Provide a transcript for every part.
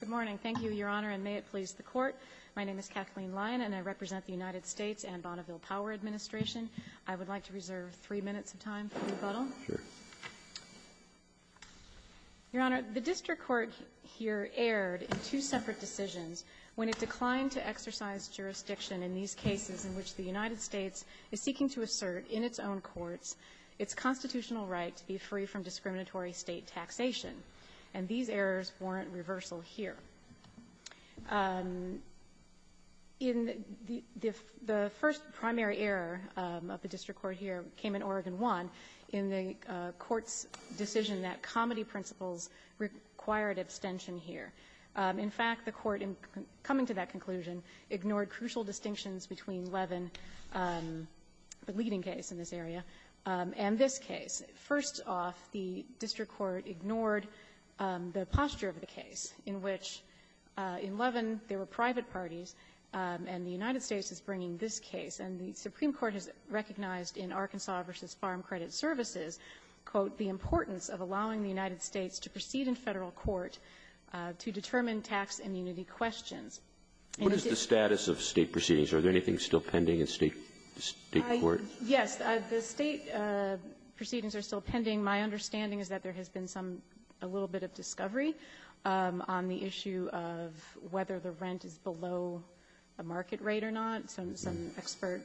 Good morning. Thank you, Your Honor, and may it please the Court. My name is Kathleen Lyon, and I represent the United States and Bonneville Power Administration. I would like to reserve three minutes of time for rebuttal. Sure. Your Honor, the District Court here erred in two separate decisions when it declined to exercise jurisdiction in these cases in which the United States is seeking to assert, in its own courts, its constitutional right to be free from discriminatory state taxation. And these errors warrant reversal here. The first primary error of the District Court here came in Oregon 1 in the Court's decision that comedy principles required abstention here. In fact, the Court, in coming to that conclusion, ignored crucial distinctions between Levin, the leading case in this area, and this case. First off, the District Court ignored the posture of the case in which in Levin there were private parties, and the United States is bringing this case. And the Supreme Court has recognized in Arkansas v. Farm Credit Services, quote, the importance of allowing the United States to proceed in Federal court to determine tax immunity questions. What is the status of State proceedings? Are there anything still pending in State court? Yes. The State proceedings are still pending. My understanding is that there has been some, a little bit of discovery on the issue of whether the rent is below the market rate or not, some expert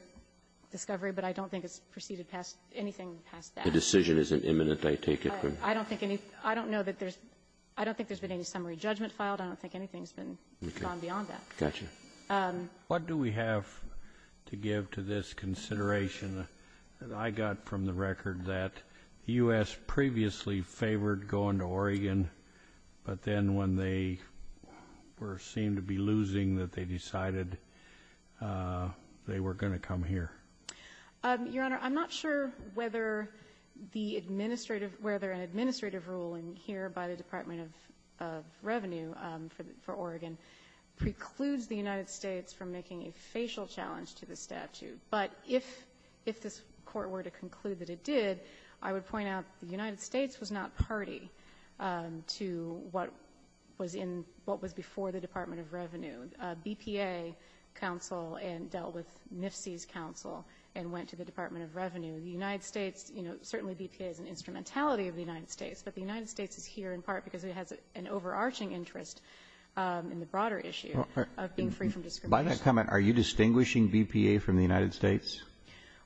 discovery. But I don't think it's proceeded past anything past that. The decision isn't imminent, I take it? I don't think any, I don't know that there's, I don't think there's been any summary judgment filed. I don't think anything's been gone beyond that. Gotcha. What do we have to give to this consideration that I got from the record that U.S. previously favored going to Oregon, but then when they were, seemed to be losing, that they decided they were going to come here? Your Honor, I'm not sure whether the administrative, whether an administrative ruling here by the Department of Revenue for Oregon precludes the United States from making a facial challenge to the statute. But if this Court were to conclude that it did, I would point out the United States was not party to what was in, what was before the Department of Revenue. BPA counsel and dealt with NFC's counsel and went to the Department of Revenue. The United States, you know, certainly BPA is an instrumentality of the United States, but the United States is here in part because it has an overarching interest in the broader issue of being free from discrimination. By that comment, are you distinguishing BPA from the United States?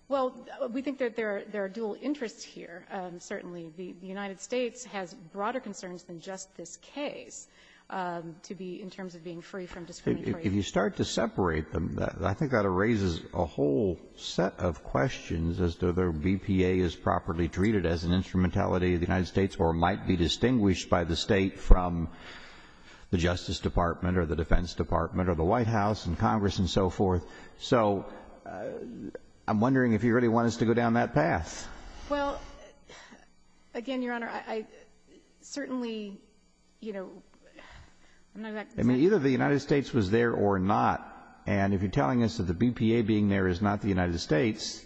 Well, we think that there are dual interests here. Certainly, the United States has broader concerns than just this case to be, in terms of being free from discrimination. If you start to separate them, I think that raises a whole set of questions as to whether BPA is properly treated as an instrumentality of the United States or might be distinguished by the State from the Justice Department or the Defense Department or the White House and Congress and so forth. So I'm wondering if you really want us to go down that path. Well, again, Your Honor, I certainly, you know, I'm not exactly sure. I mean, either the United States was there or not. And if you're telling us that the BPA being there is not the United States,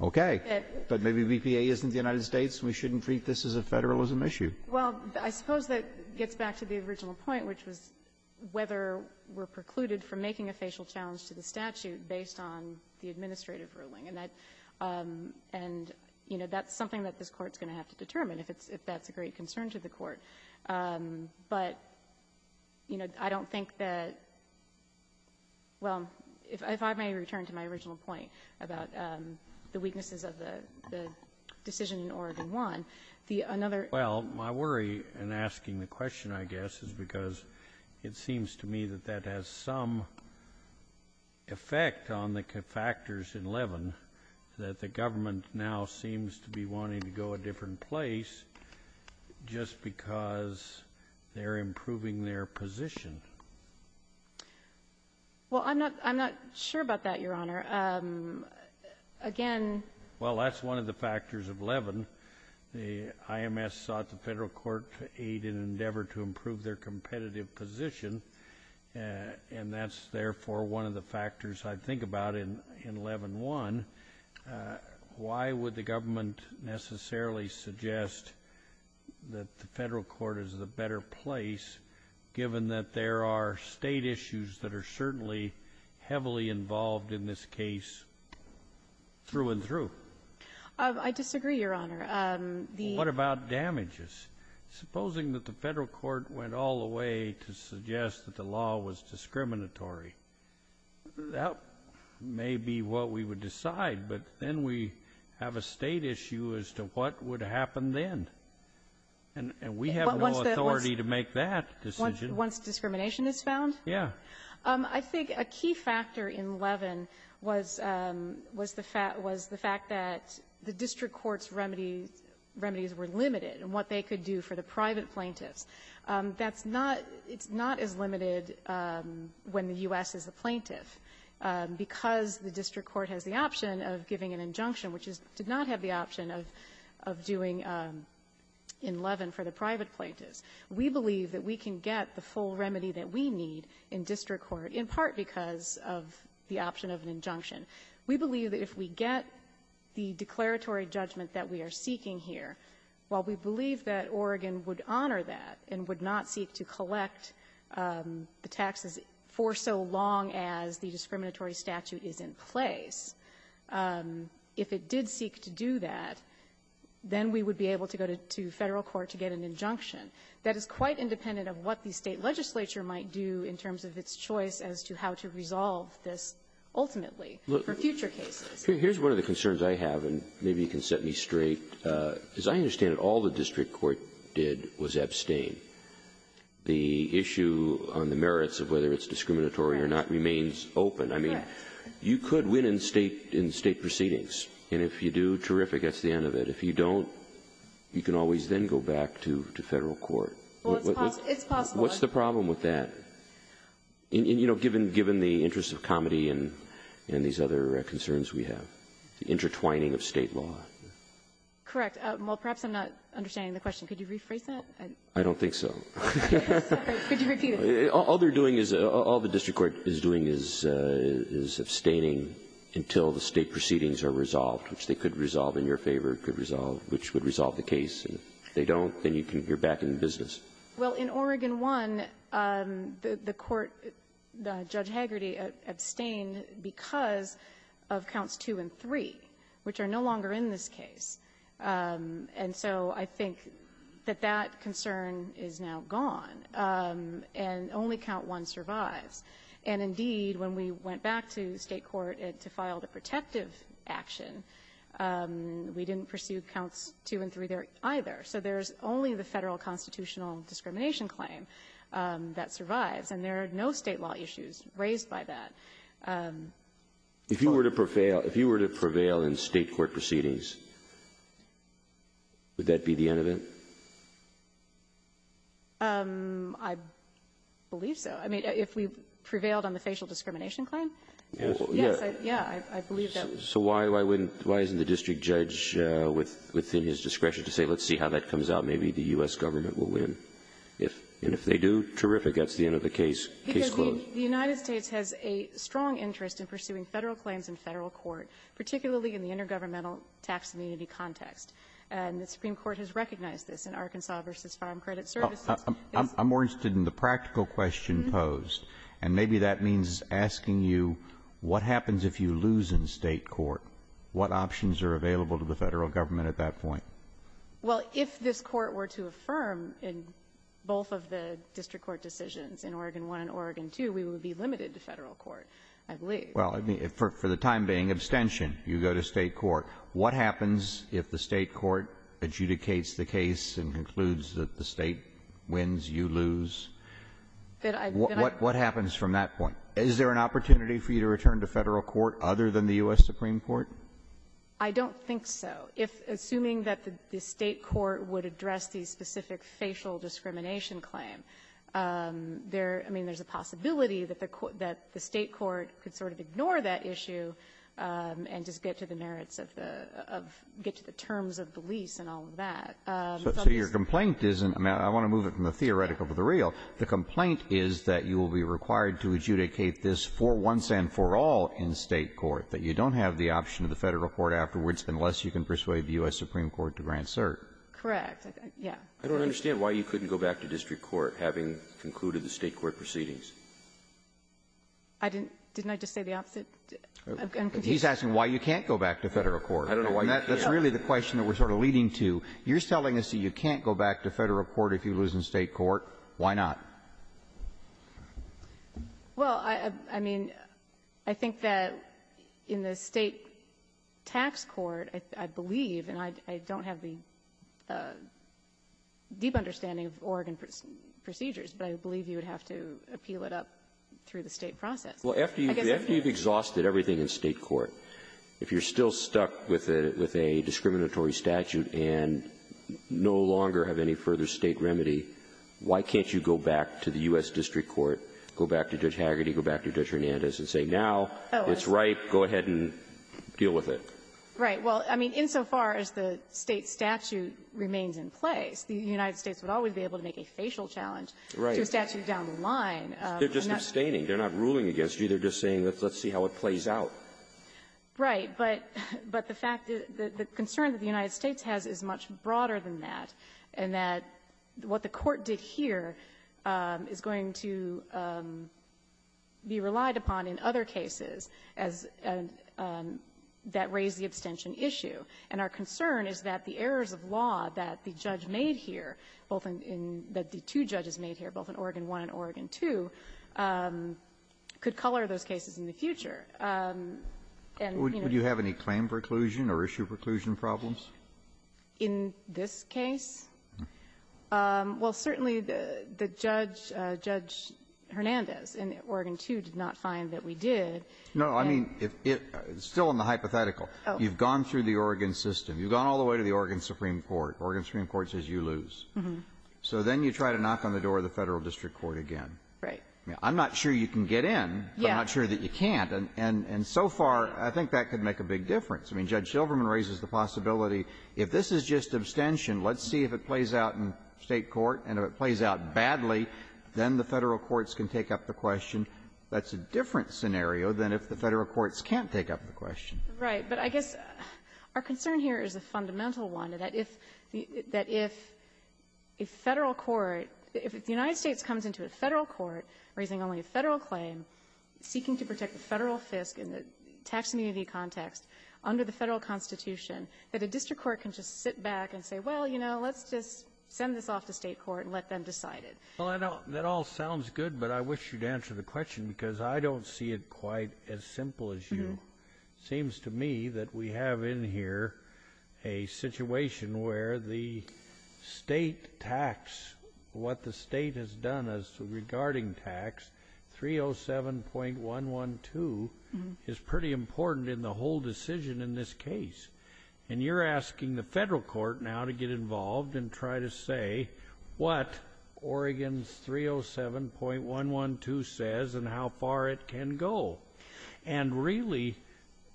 okay. But maybe BPA isn't the United States. We shouldn't treat this as a Federalism issue. Well, I suppose that gets back to the original point, which was whether we're precluded from making a facial challenge to the statute based on the administrative ruling. And, you know, that's something that this Court's going to have to determine, if that's a great concern to the Court. But, you know, I don't think that — well, if I may return to my original point about the weaknesses of the decision in Oregon 1, the — Well, my worry in asking the question, I guess, is because it seems to me that that has some effect on the factors in Levin, that the government now seems to be wanting to go a different place just because they're improving their position. Well, I'm not sure about that, Your Honor. Again — Well, that's one of the factors of Levin. The IMS sought the Federal Court to aid in an endeavor to improve their competitive position, and that's, therefore, one of the factors I think about in Levin 1. Why would the government necessarily suggest that the Federal Court is the better place, given that there are State issues that are certainly heavily involved in this case through and through? I disagree, Your Honor. What about damages? Supposing that the Federal Court went all the way to suggest that the law was discriminatory. That may be what we would decide, but then we have a State issue as to what would happen then. And we have no authority to make that decision. Once discrimination is found? Yeah. I think a key factor in Levin was the fact that the district court's remedies were limited in what they could do for the private plaintiffs. That's not — it's not as limited when the U.S. is the plaintiff, because the district court has the option of giving an injunction, which did not have the option of doing in Levin for the private plaintiffs. We believe that we can get the full remedy that we need in district court, in part because of the option of an injunction. We believe that if we get the declaratory judgment that we are seeking here, while we believe that Oregon would honor that and would not seek to collect the taxes for so long as the discriminatory statute is in place, if it did seek to do that, then we would be able to go to Federal court to get an injunction. That is quite independent of what the State legislature might do in terms of its choice as to how to resolve this ultimately for future cases. Here's one of the concerns I have, and maybe you can set me straight. As I understand it, all the district court did was abstain. The issue on the merits of whether it's discriminatory or not remains open. I mean, you could win in State proceedings, and if you do, terrific, that's the end of it. If you don't, you can always then go back to Federal court. It's possible. What's the problem with that? You know, given the interest of comedy and these other concerns we have, the intertwining of State law. Correct. Well, perhaps I'm not understanding the question. Could you rephrase that? I don't think so. Could you repeat it? All they're doing is, all the district court is doing is abstaining until the State proceedings are resolved, which they could resolve in your favor, could resolve which would resolve the case, and if they don't, then you're back in business. Well, in Oregon 1, the court, Judge Hagerty, abstained because of Counts 2 and 3, which are no longer in this case. And so I think that that concern is now gone, and only Count 1 survives. And indeed, when we went back to State court to file the protective action, we didn't pursue Counts 2 and 3 there either. So there's only the Federal constitutional discrimination claim that survives, and there are no State law issues raised by that. If you were to prevail in State court proceedings, would that be the end of it? I believe so. I mean, if we prevailed on the facial discrimination claim? Yes. Yeah. I believe that. So why wouldn't the district judge, within his discretion to say let's see how that comes out, maybe the U.S. government will win? And if they do, terrific. That's the end of the case. Case closed. Because the United States has a strong interest in pursuing Federal claims in Federal court, particularly in the intergovernmental tax immunity context. And the Supreme Court has recognized this in Arkansas v. Farm Credit Services. I'm more interested in the practical question posed. And maybe that means asking you what happens if you lose in State court? What options are available to the Federal government at that point? Well, if this Court were to affirm in both of the district court decisions, in Oregon I and Oregon II, we would be limited to Federal court, I believe. Well, for the time being, abstention. You go to State court. What happens if the State court adjudicates the case and concludes that the State wins, you lose? What happens from that point? Is there an opportunity for you to return to Federal court other than the U.S. Supreme Court? I don't think so. If, assuming that the State court would address the specific facial discrimination claim, there, I mean, there's a possibility that the State court could sort of ignore that issue and just get to the merits of the --- get to the terms of the lease and all of that. So your complaint isn't -- I want to move it from the theoretical to the real. The complaint is that you will be required to adjudicate this for once and for all in State court, that you don't have the option of the Federal court afterwards unless you can persuade the U.S. Supreme Court to grant cert. Correct. Yeah. I don't understand why you couldn't go back to district court having concluded the State court proceedings. I didn't. Didn't I just say the opposite? I'm confused. He's asking why you can't go back to Federal court. I don't know why you can't. That's really the question that we're sort of leading to. You're telling us that you can't go back to Federal court if you lose in State court. Why not? Well, I mean, I think that in the State tax court, I believe, and I don't have the deep understanding of Oregon procedures, but I believe you would have to appeal it up through the State process. Well, after you've exhausted everything in State court, if you're still stuck with a discriminatory statute and no longer have any further State remedy, why can't you go back to the U.S. district court, go back to Judge Hagerty, go back to Judge Hernandez, and say now it's right, go ahead and deal with it? Right. Well, I mean, insofar as the State statute remains in place, the United States would always be able to make a facial challenge to a statute down the line. They're just abstaining. They're not ruling against you. They're just saying let's see how it plays out. Right. But the fact that the concern that the United States has is much broader than that, and that what the Court did here is going to be relied upon in other cases as that raised the abstention issue. And our concern is that the errors of law that the judge made here, both in the two judges made here, both in Oregon I and Oregon II, could color those cases in the future. And, you know. Would you have any claim preclusion or issue preclusion problems? In this case? Well, certainly, the judge, Judge Hernandez in Oregon II, did not find that we did. No. I mean, it's still in the hypothetical. You've gone through the Oregon system. You've gone all the way to the Oregon Supreme Court. Oregon Supreme Court says you lose. So then you try to knock on the door of the Federal district court again. Right. I'm not sure you can get in, but I'm not sure that you can't. And so far, I think that could make a big difference. I mean, Judge Shilverman raises the possibility, if this is just abstention, let's see if it plays out in State court. And if it plays out badly, then the Federal courts can take up the question. That's a different scenario than if the Federal courts can't take up the question. Right. But I guess our concern here is a fundamental one, that if a Federal court, if the United States comes into a Federal court raising only a Federal claim, seeking to protect the Federal fisc in the tax immunity context under the Federal constitution, that a district court can just sit back and say, well, you know, let's just send this off to State court and let them decide it. Well, that all sounds good, but I wish you'd answer the question, because I don't see it quite as simple as you. It seems to me that we have in here a situation where the State tax, what the State has done regarding tax, 307.112, is pretty important in the whole decision in this case. And you're asking the Federal court now to get involved and try to say, what Oregon's 307.112 says and how far it can go. And really,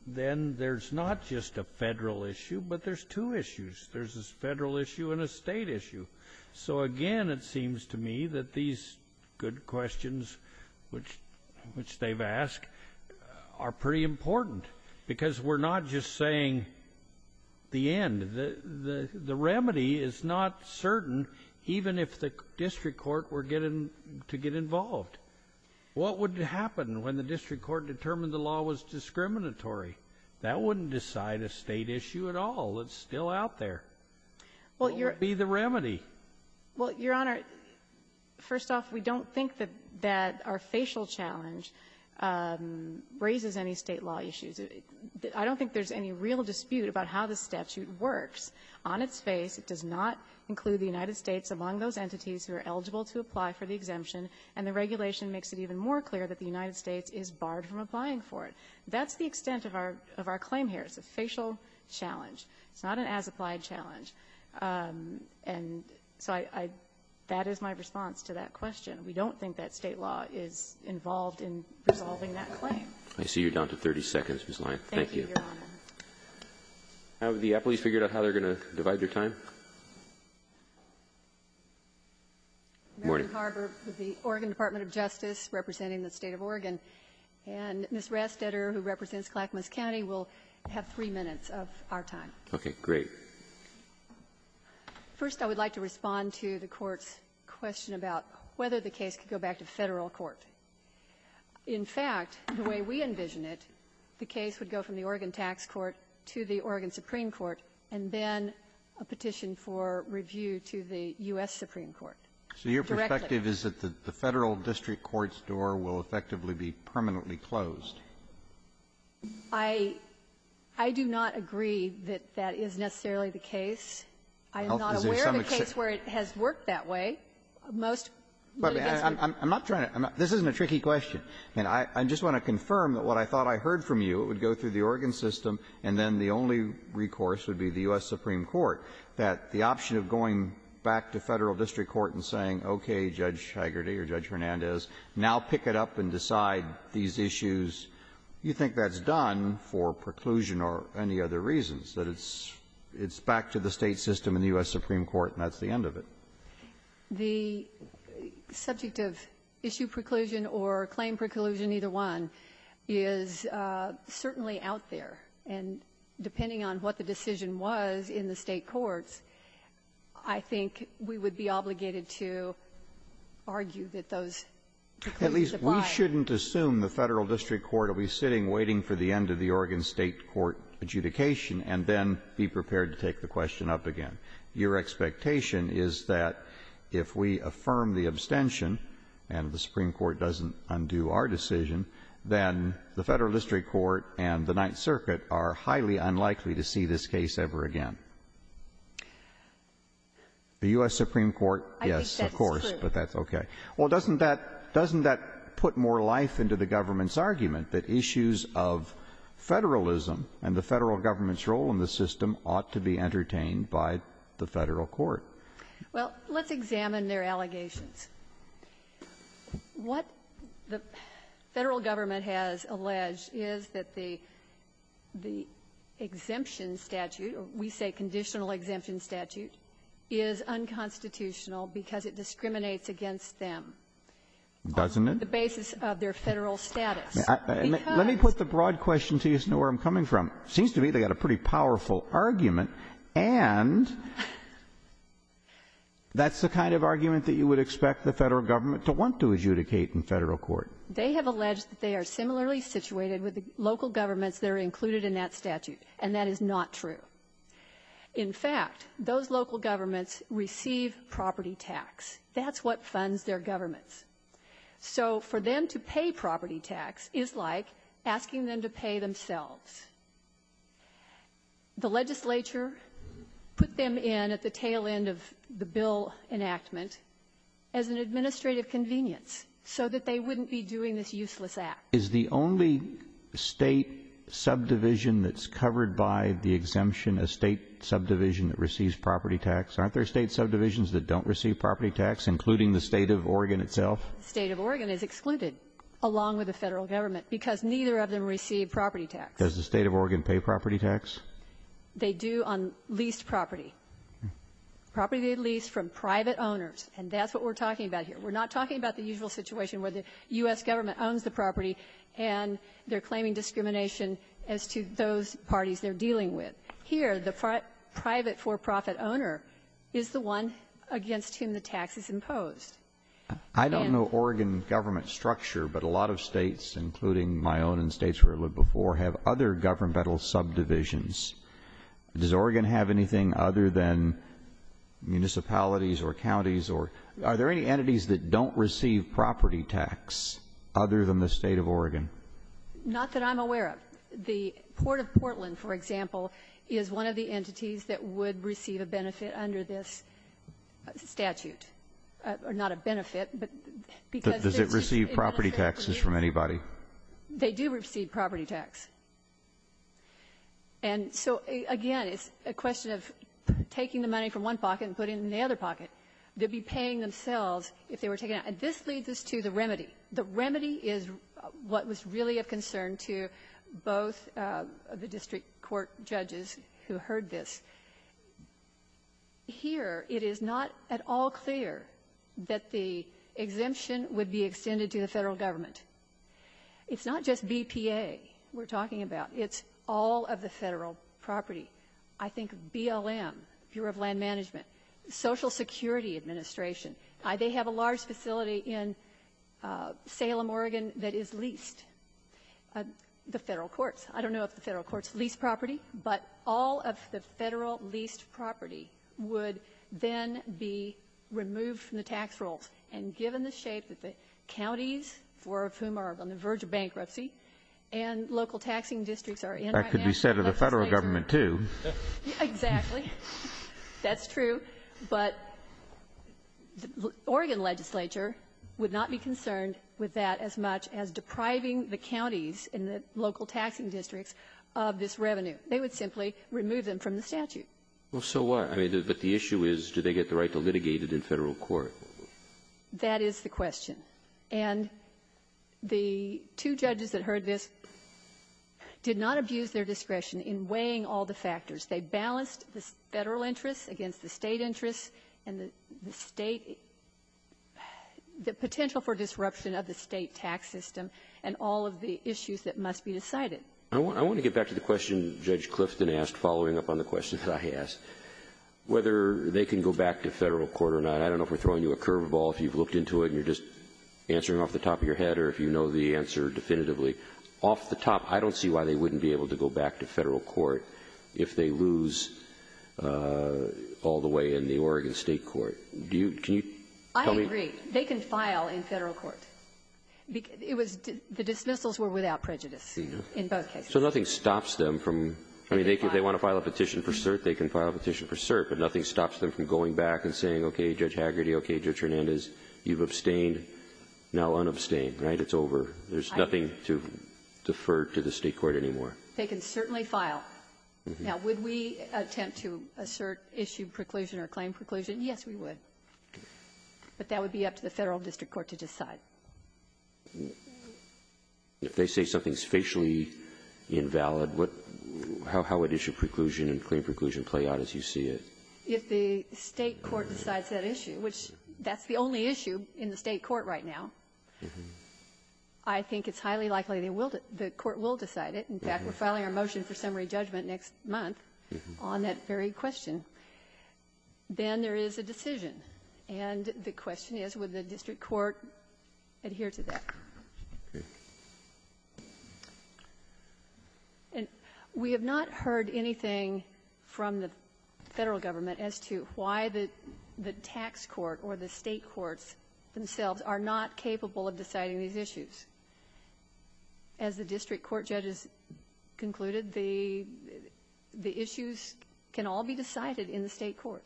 then, there's not just a Federal issue, but there's two issues. There's a Federal issue and a State issue. So, again, it seems to me that these good questions, which they've asked, are pretty important, because we're not just saying the end. The remedy is not certain even if the district court were getting to get involved. What would happen when the district court determined the law was discriminatory? That wouldn't decide a State issue at all. It's still out there. What would be the remedy? Well, Your Honor, first off, we don't think that our facial challenge raises any State law issues. I don't think there's any real dispute about how the statute works. On its face, it does not include the United States among those entities who are eligible to apply for the exemption, and the regulation makes it even more clear that the United States is barred from applying for it. That's the extent of our claim here. It's a facial challenge. It's not an as-applied challenge. And so I — that is my response to that question. We don't think that State law is involved in resolving that claim. I see you're down to 30 seconds, Ms. Lyon. Thank you. Thank you, Your Honor. Have the appellees figured out how they're going to divide their time? Good morning. The Oregon Department of Justice representing the State of Oregon. And Ms. Rastetter, who represents Clackamas County, will have three minutes of our time. Okay. Great. First, I would like to respond to the Court's question about whether the case could go back to Federal court. In fact, the way we envision it, the case would go from the Oregon Tax Court to the Oregon Supreme Court, and then a petition for review to the U.S. Supreme Court. Directly. So your perspective is that the Federal district court's door will effectively be permanently closed? I do not agree that that is necessarily the case. I am not aware of a case where it has worked that way. But I'm not trying to – this isn't a tricky question. I just want to confirm that what I thought I heard from you, it would go through the Oregon system, and then the only recourse would be the U.S. Supreme Court, that the option of going back to Federal district court and saying, okay, Judge Hagerty or Judge Hernandez, now pick it up and decide these issues, you think that's done for preclusion or any other reasons, that it's back to the State system and the U.S. Supreme Court and that's the end of it? The subject of issue preclusion or claim preclusion, either one, is certainly out there. And depending on what the decision was in the State courts, I think we would be obligated to argue that those preclusions apply. At least we shouldn't assume the Federal district court will be sitting waiting for the end of the Oregon State court adjudication and then be prepared to take the question up again. Your expectation is that if we affirm the abstention and the Supreme Court doesn't undo our decision, then the Federal district court and the Ninth Circuit are highly unlikely to see this case ever again. The U.S. Supreme Court, yes, of course, but that's okay. Well, doesn't that put more life into the government's argument that issues of federalism and the Federal government's role in the system ought to be entertained by the Federal court? Well, let's examine their allegations. What the Federal government has alleged is that the exemption statute, or we say conditional exemption statute, is unconstitutional because it discriminates against them. Doesn't it? On the basis of their Federal status. Let me put the broad question to you so you know where I'm coming from. It seems to me they've got a pretty powerful argument, and that's the kind of argument that you would expect the Federal government to want to adjudicate in Federal court. They have alleged that they are similarly situated with the local governments that are included in that statute, and that is not true. In fact, those local governments receive property tax. That's what funds their governments. So for them to pay property tax is like asking them to pay themselves. The legislature put them in at the tail end of the bill enactment as an administrative convenience so that they wouldn't be doing this useless act. Is the only state subdivision that's covered by the exemption a state subdivision that receives property tax? Aren't there state subdivisions that don't receive property tax, including the state of Oregon itself? State of Oregon is excluded along with the Federal government because neither of them receive property tax. Does the State of Oregon pay property tax? They do on leased property. Property they lease from private owners, and that's what we're talking about here. We're not talking about the usual situation where the U.S. government owns the property and they're claiming discrimination as to those parties they're dealing with. Here, the private for-profit owner is the one against whom the tax is imposed. I don't know Oregon government structure, but a lot of states, including my own and states where I lived before, have other governmental subdivisions. Does Oregon have anything other than municipalities or counties or are there any entities that don't receive property tax other than the State of Oregon? Not that I'm aware of. The Port of Portland, for example, is one of the entities that would receive a benefit under this statute. Not a benefit, but because it's in the State of Oregon. Does it receive property taxes from anybody? They do receive property tax. And so, again, it's a question of taking the money from one pocket and putting it in the other pocket. They'd be paying themselves if they were taken out. And this leads us to the remedy. The remedy is what was really of concern to both of the district court judges who heard this. Here, it is not at all clear that the exemption would be extended to the Federal government. It's not just BPA we're talking about. It's all of the Federal property. I think BLM, Bureau of Land Management, Social Security Administration, they have a large facility in Salem, Oregon, that is leased. The Federal courts. I don't know if the Federal courts lease property. But all of the Federal leased property would then be removed from the tax rolls. And given the shape that the counties, four of whom are on the verge of bankruptcy, and local taxing districts are in right now. That could be said of the Federal government, too. Exactly. That's true. But the Oregon legislature would not be concerned with that as much as depriving the counties and the local taxing districts of this revenue. They would simply remove them from the statute. Well, so what? I mean, but the issue is, do they get the right to litigate it in Federal court? That is the question. And the two judges that heard this did not abuse their discretion in weighing all the factors. They balanced the Federal interests against the State interests and the State the potential for disruption of the State tax system and all of the issues that must be decided. I want to get back to the question Judge Clifton asked following up on the question that I asked, whether they can go back to Federal court or not. I don't know if we're throwing you a curveball, if you've looked into it and you're just answering off the top of your head or if you know the answer definitively. Off the top, I don't see why they wouldn't be able to go back to Federal court if they lose all the way in the Oregon State court. Do you, can you tell me? I agree. They can file in Federal court. It was, the dismissals were without prejudice in both cases. So nothing stops them from, I mean, they want to file a petition for cert, they can file a petition for cert, but nothing stops them from going back and saying, okay, Judge Hagerty, okay, Judge Hernandez, you've abstained, now unabstain, right? It's over. There's nothing to defer to the State court anymore. They can certainly file. Now, would we attempt to assert issue preclusion or claim preclusion? Yes, we would. But that would be up to the Federal district court to decide. If they say something's facially invalid, what, how would issue preclusion and claim preclusion play out as you see it? If the State court decides that issue, which that's the only issue in the State court right now, I think it's highly likely they will, the court will decide it. In fact, we're filing our motion for summary judgment next month on that very question. Then there is a decision. And the question is, would the district court adhere to that? Okay. We have not heard anything from the Federal government as to why the tax court or the State courts themselves are not capable of deciding these issues. As the district court judges concluded, the issues can all be decided in the State court.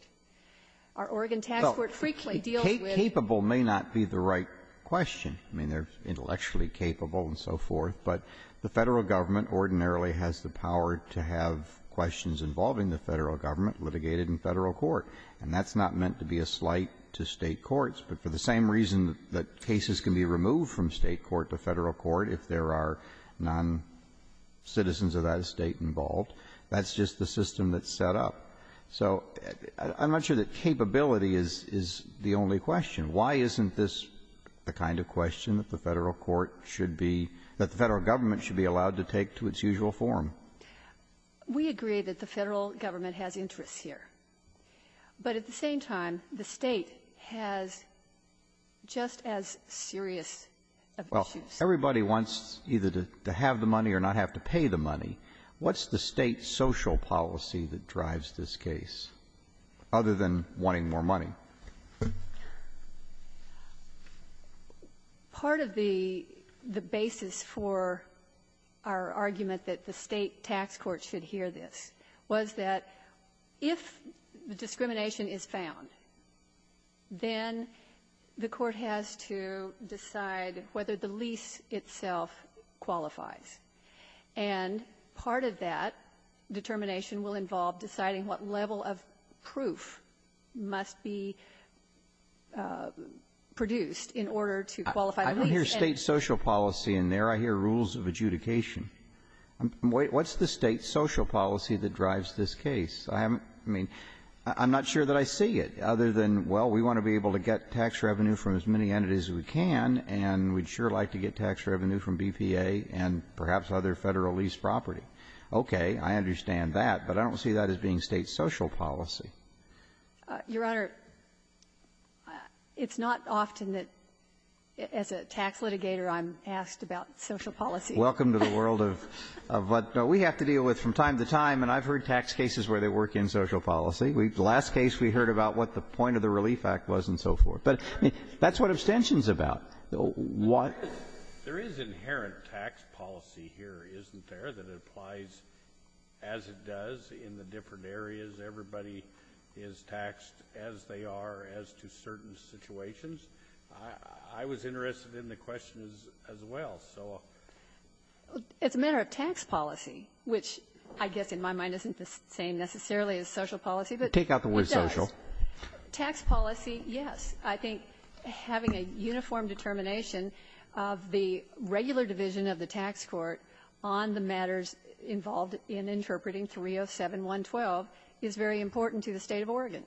Our Oregon tax court frequently deals with the question. Capable may not be the right question. I mean, they're intellectually capable and so forth. But the Federal government ordinarily has the power to have questions involving the Federal government litigated in Federal court. And that's not meant to be a slight to State courts. But for the same reason that cases can be removed from State court to Federal court if there are noncitizens of that State involved, that's just the system that's set up. So I'm not sure that capability is the only question. Why isn't this the kind of question that the Federal court should be, that the Federal government should be allowed to take to its usual form? We agree that the Federal government has interests here. But at the same time, the State has just as serious of issues. Well, everybody wants either to have the money or not have to pay the money. What's the State social policy that drives this case, other than wanting more money? Part of the basis for our argument that the State tax court should hear this was that if the discrimination is found, then the court has to decide whether the lease itself qualifies. And part of that determination will involve deciding what level of proof must be produced in order to qualify the lease. I don't hear State social policy in there. I hear rules of adjudication. What's the State social policy that drives this case? I haven't, I mean, I'm not sure that I see it, other than, well, we want to be able to get tax revenue from as many entities as we can, and we'd sure like to get tax revenue from BPA and perhaps other Federal leased property. Okay. I understand that. But I don't see that as being State social policy. Your Honor, it's not often that, as a tax litigator, I'm asked about social policy. Welcome to the world of what we have to deal with from time to time. And I've heard tax cases where they work in social policy. The last case we heard about what the point of the Relief Act was and so forth. But that's what abstention's about. What — There is inherent tax policy here, isn't there, that applies as it does in the different areas, everybody is taxed as they are as to certain situations? I was interested in the question as well, so. It's a matter of tax policy, which I guess in my mind isn't the same necessarily as social policy, but it does. Take out the word social. Tax policy, yes. I think having a uniform determination of the regular division of the tax court on the matters involved in interpreting 307.112 is very important to the State of Oregon.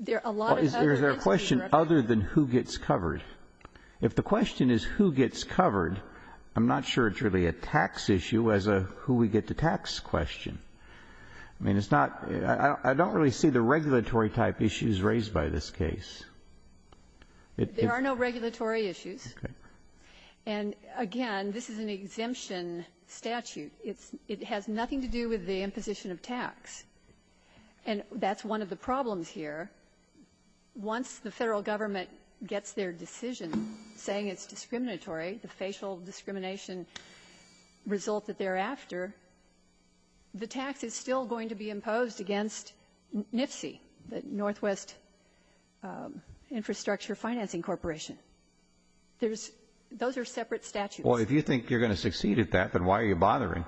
There are a lot of other things that we recommend. Well, is there a question other than who gets covered? If the question is who gets covered, I'm not sure it's really a tax issue as a who we get the tax question. I mean, it's not — I don't really see the regulatory-type issues raised by this case. There are no regulatory issues. Okay. And, again, this is an exemption statute. It's — it has nothing to do with the imposition of tax. And that's one of the problems here. Once the Federal Government gets their decision saying it's discriminatory, the facial discrimination resulted thereafter, the tax is still going to be imposed against NFSI, the Northwest Infrastructure Financing Corporation. There's — those are separate statutes. Well, if you think you're going to succeed at that, then why are you bothering?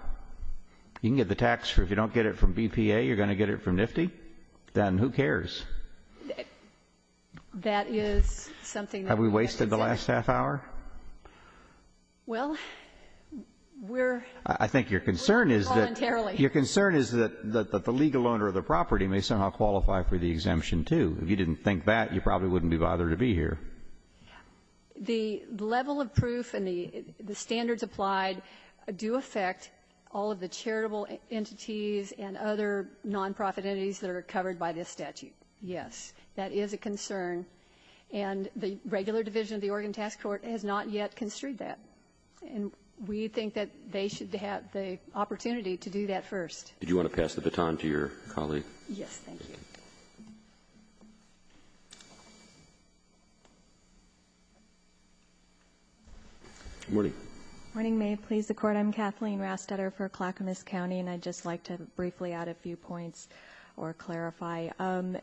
You can get the tax for — if you don't get it from BPA, you're going to get it from NFTI? Then who cares? That is something that we have to examine. Have we wasted the last half hour? Well, we're — I think your concern is that — Voluntarily. Your concern is that the legal owner of the property may somehow qualify for the exemption, too. If you didn't think that, you probably wouldn't be bothered to be here. The level of proof and the standards applied do affect all of the charitable entities and other nonprofit entities that are covered by this statute, yes. That is a concern. And the regular division of the Oregon Tax Court has not yet construed that. And we think that they should have the opportunity to do that first. Do you want to pass the baton to your colleague? Yes, thank you. Good morning. Good morning. May it please the Court. I'm Kathleen Rastetter for Clackamas County, and I'd just like to briefly add a few points or clarify.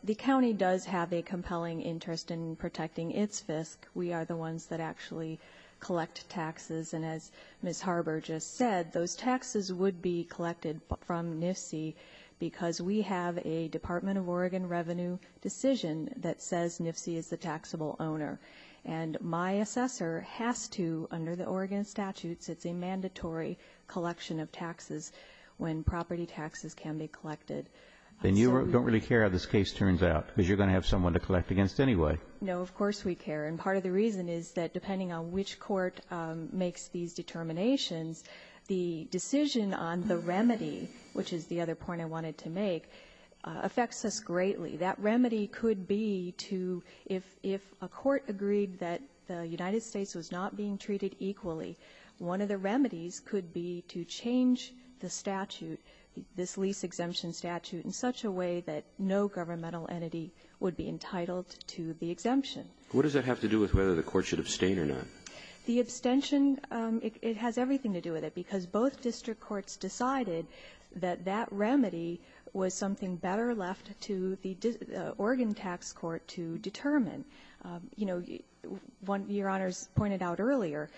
The county does have a compelling interest in protecting its FISC. We are the ones that actually collect taxes. And as Ms. Harber just said, those taxes would be collected from NIFC because we have a Department of Oregon tax office, and we have a Department of Oregon tax office, and we have a Department of Oregon revenue decision that says NIFC is the taxable owner. And my assessor has to, under the Oregon statutes, it's a mandatory collection of taxes when property taxes can be collected. Then you don't really care how this case turns out because you're going to have someone to collect against anyway. No, of course we care. And part of the reason is that depending on which court makes these determinations, the decision on the remedy, which is the other point I wanted to make, affects us greatly. That remedy could be to, if a court agreed that the United States was not being treated equally, one of the remedies could be to change the statute, this lease exemption statute, in such a way that no governmental entity would be entitled to the exemption. What does that have to do with whether the court should abstain or not? The abstention, it has everything to do with it because both district courts decided that that remedy was something better left to the Oregon tax court to determine. You know, Your Honors pointed out earlier,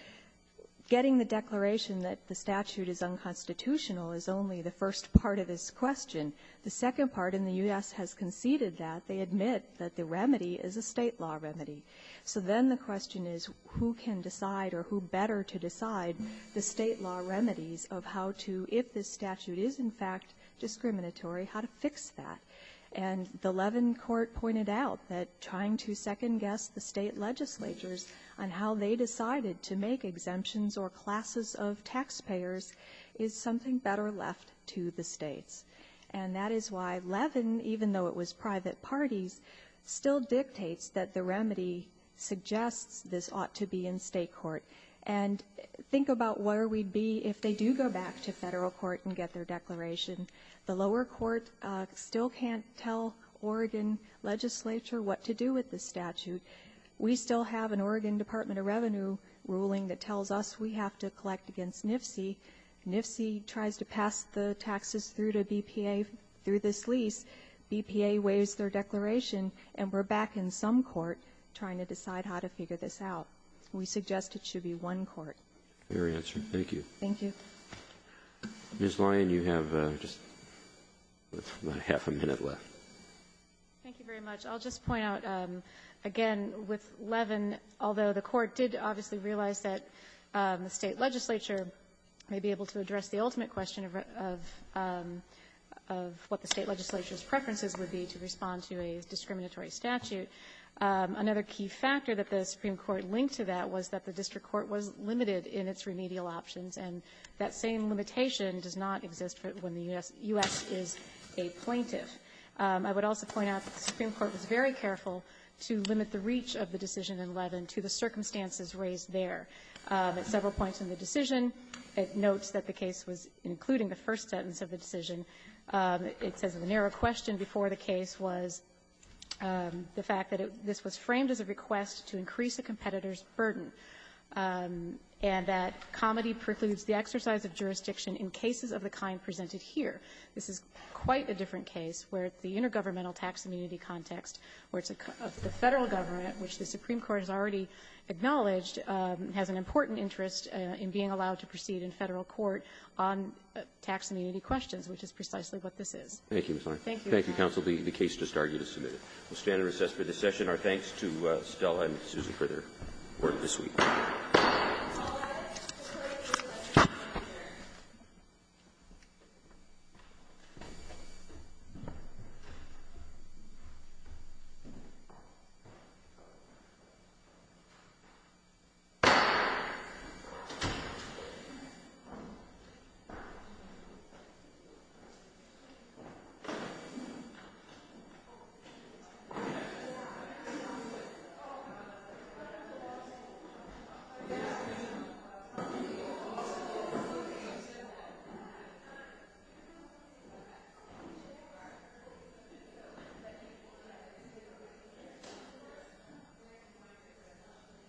getting the declaration that the statute is unconstitutional is only the first part of this question. The second part, and the U.S. has conceded that. They admit that the remedy is a State law remedy. So then the question is who can decide or who better to decide the State law remedies of how to, if the statute is in fact discriminatory, how to fix that. And the Levin court pointed out that trying to second guess the State legislatures on how they decided to make exemptions or classes of taxpayers is something better left to the States. And that is why Levin, even though it was private parties, still dictates that the remedy suggests this ought to be in State court. And think about where we'd be if they do go back to Federal court and get their declaration. The lower court still can't tell Oregon legislature what to do with the statute. We still have an Oregon Department of Revenue ruling that tells us we have to collect against NFC. NFC tries to pass the taxes through to BPA through this lease. BPA waives their declaration. And we're back in some court trying to decide how to figure this out. We suggest it should be one court. Roberts. Thank you. Thank you. Ms. Lyon, you have just about half a minute left. Thank you very much. I'll just point out again with Levin, although the court did obviously realize that the State legislature may be able to address the ultimate question of what the State legislature's preferences would be to respond to a discriminatory statute, another key factor that the Supreme Court linked to that was that the district court was limited in its remedial options, and that same limitation does not exist when the U.S. is a plaintiff. I would also point out that the Supreme Court was very careful to limit the reach of the decision in Levin to the circumstances raised there. At several points in the decision, it notes that the case was including the first sentence of the decision. It says that the narrow question before the case was the fact that this was framed as a request to increase a competitor's burden, and that comity precludes the exercise of jurisdiction in cases of the kind presented here. This is quite a different case where the intergovernmental tax immunity context, where the Federal government, which the Supreme Court has already acknowledged, has an important interest in being allowed to proceed in Federal court on tax immunity questions, which is precisely what this is. Thank you, Ms. Larkin. Thank you, counsel. The case just argued is submitted. We'll stand and recess for this session. Our thanks to Stella and Susan for their work this week. All rise for the Pledge of Allegiance. I pledge allegiance to the flag of the United States of America. And to the Republic for which it stands, one nation, under God, indivisible,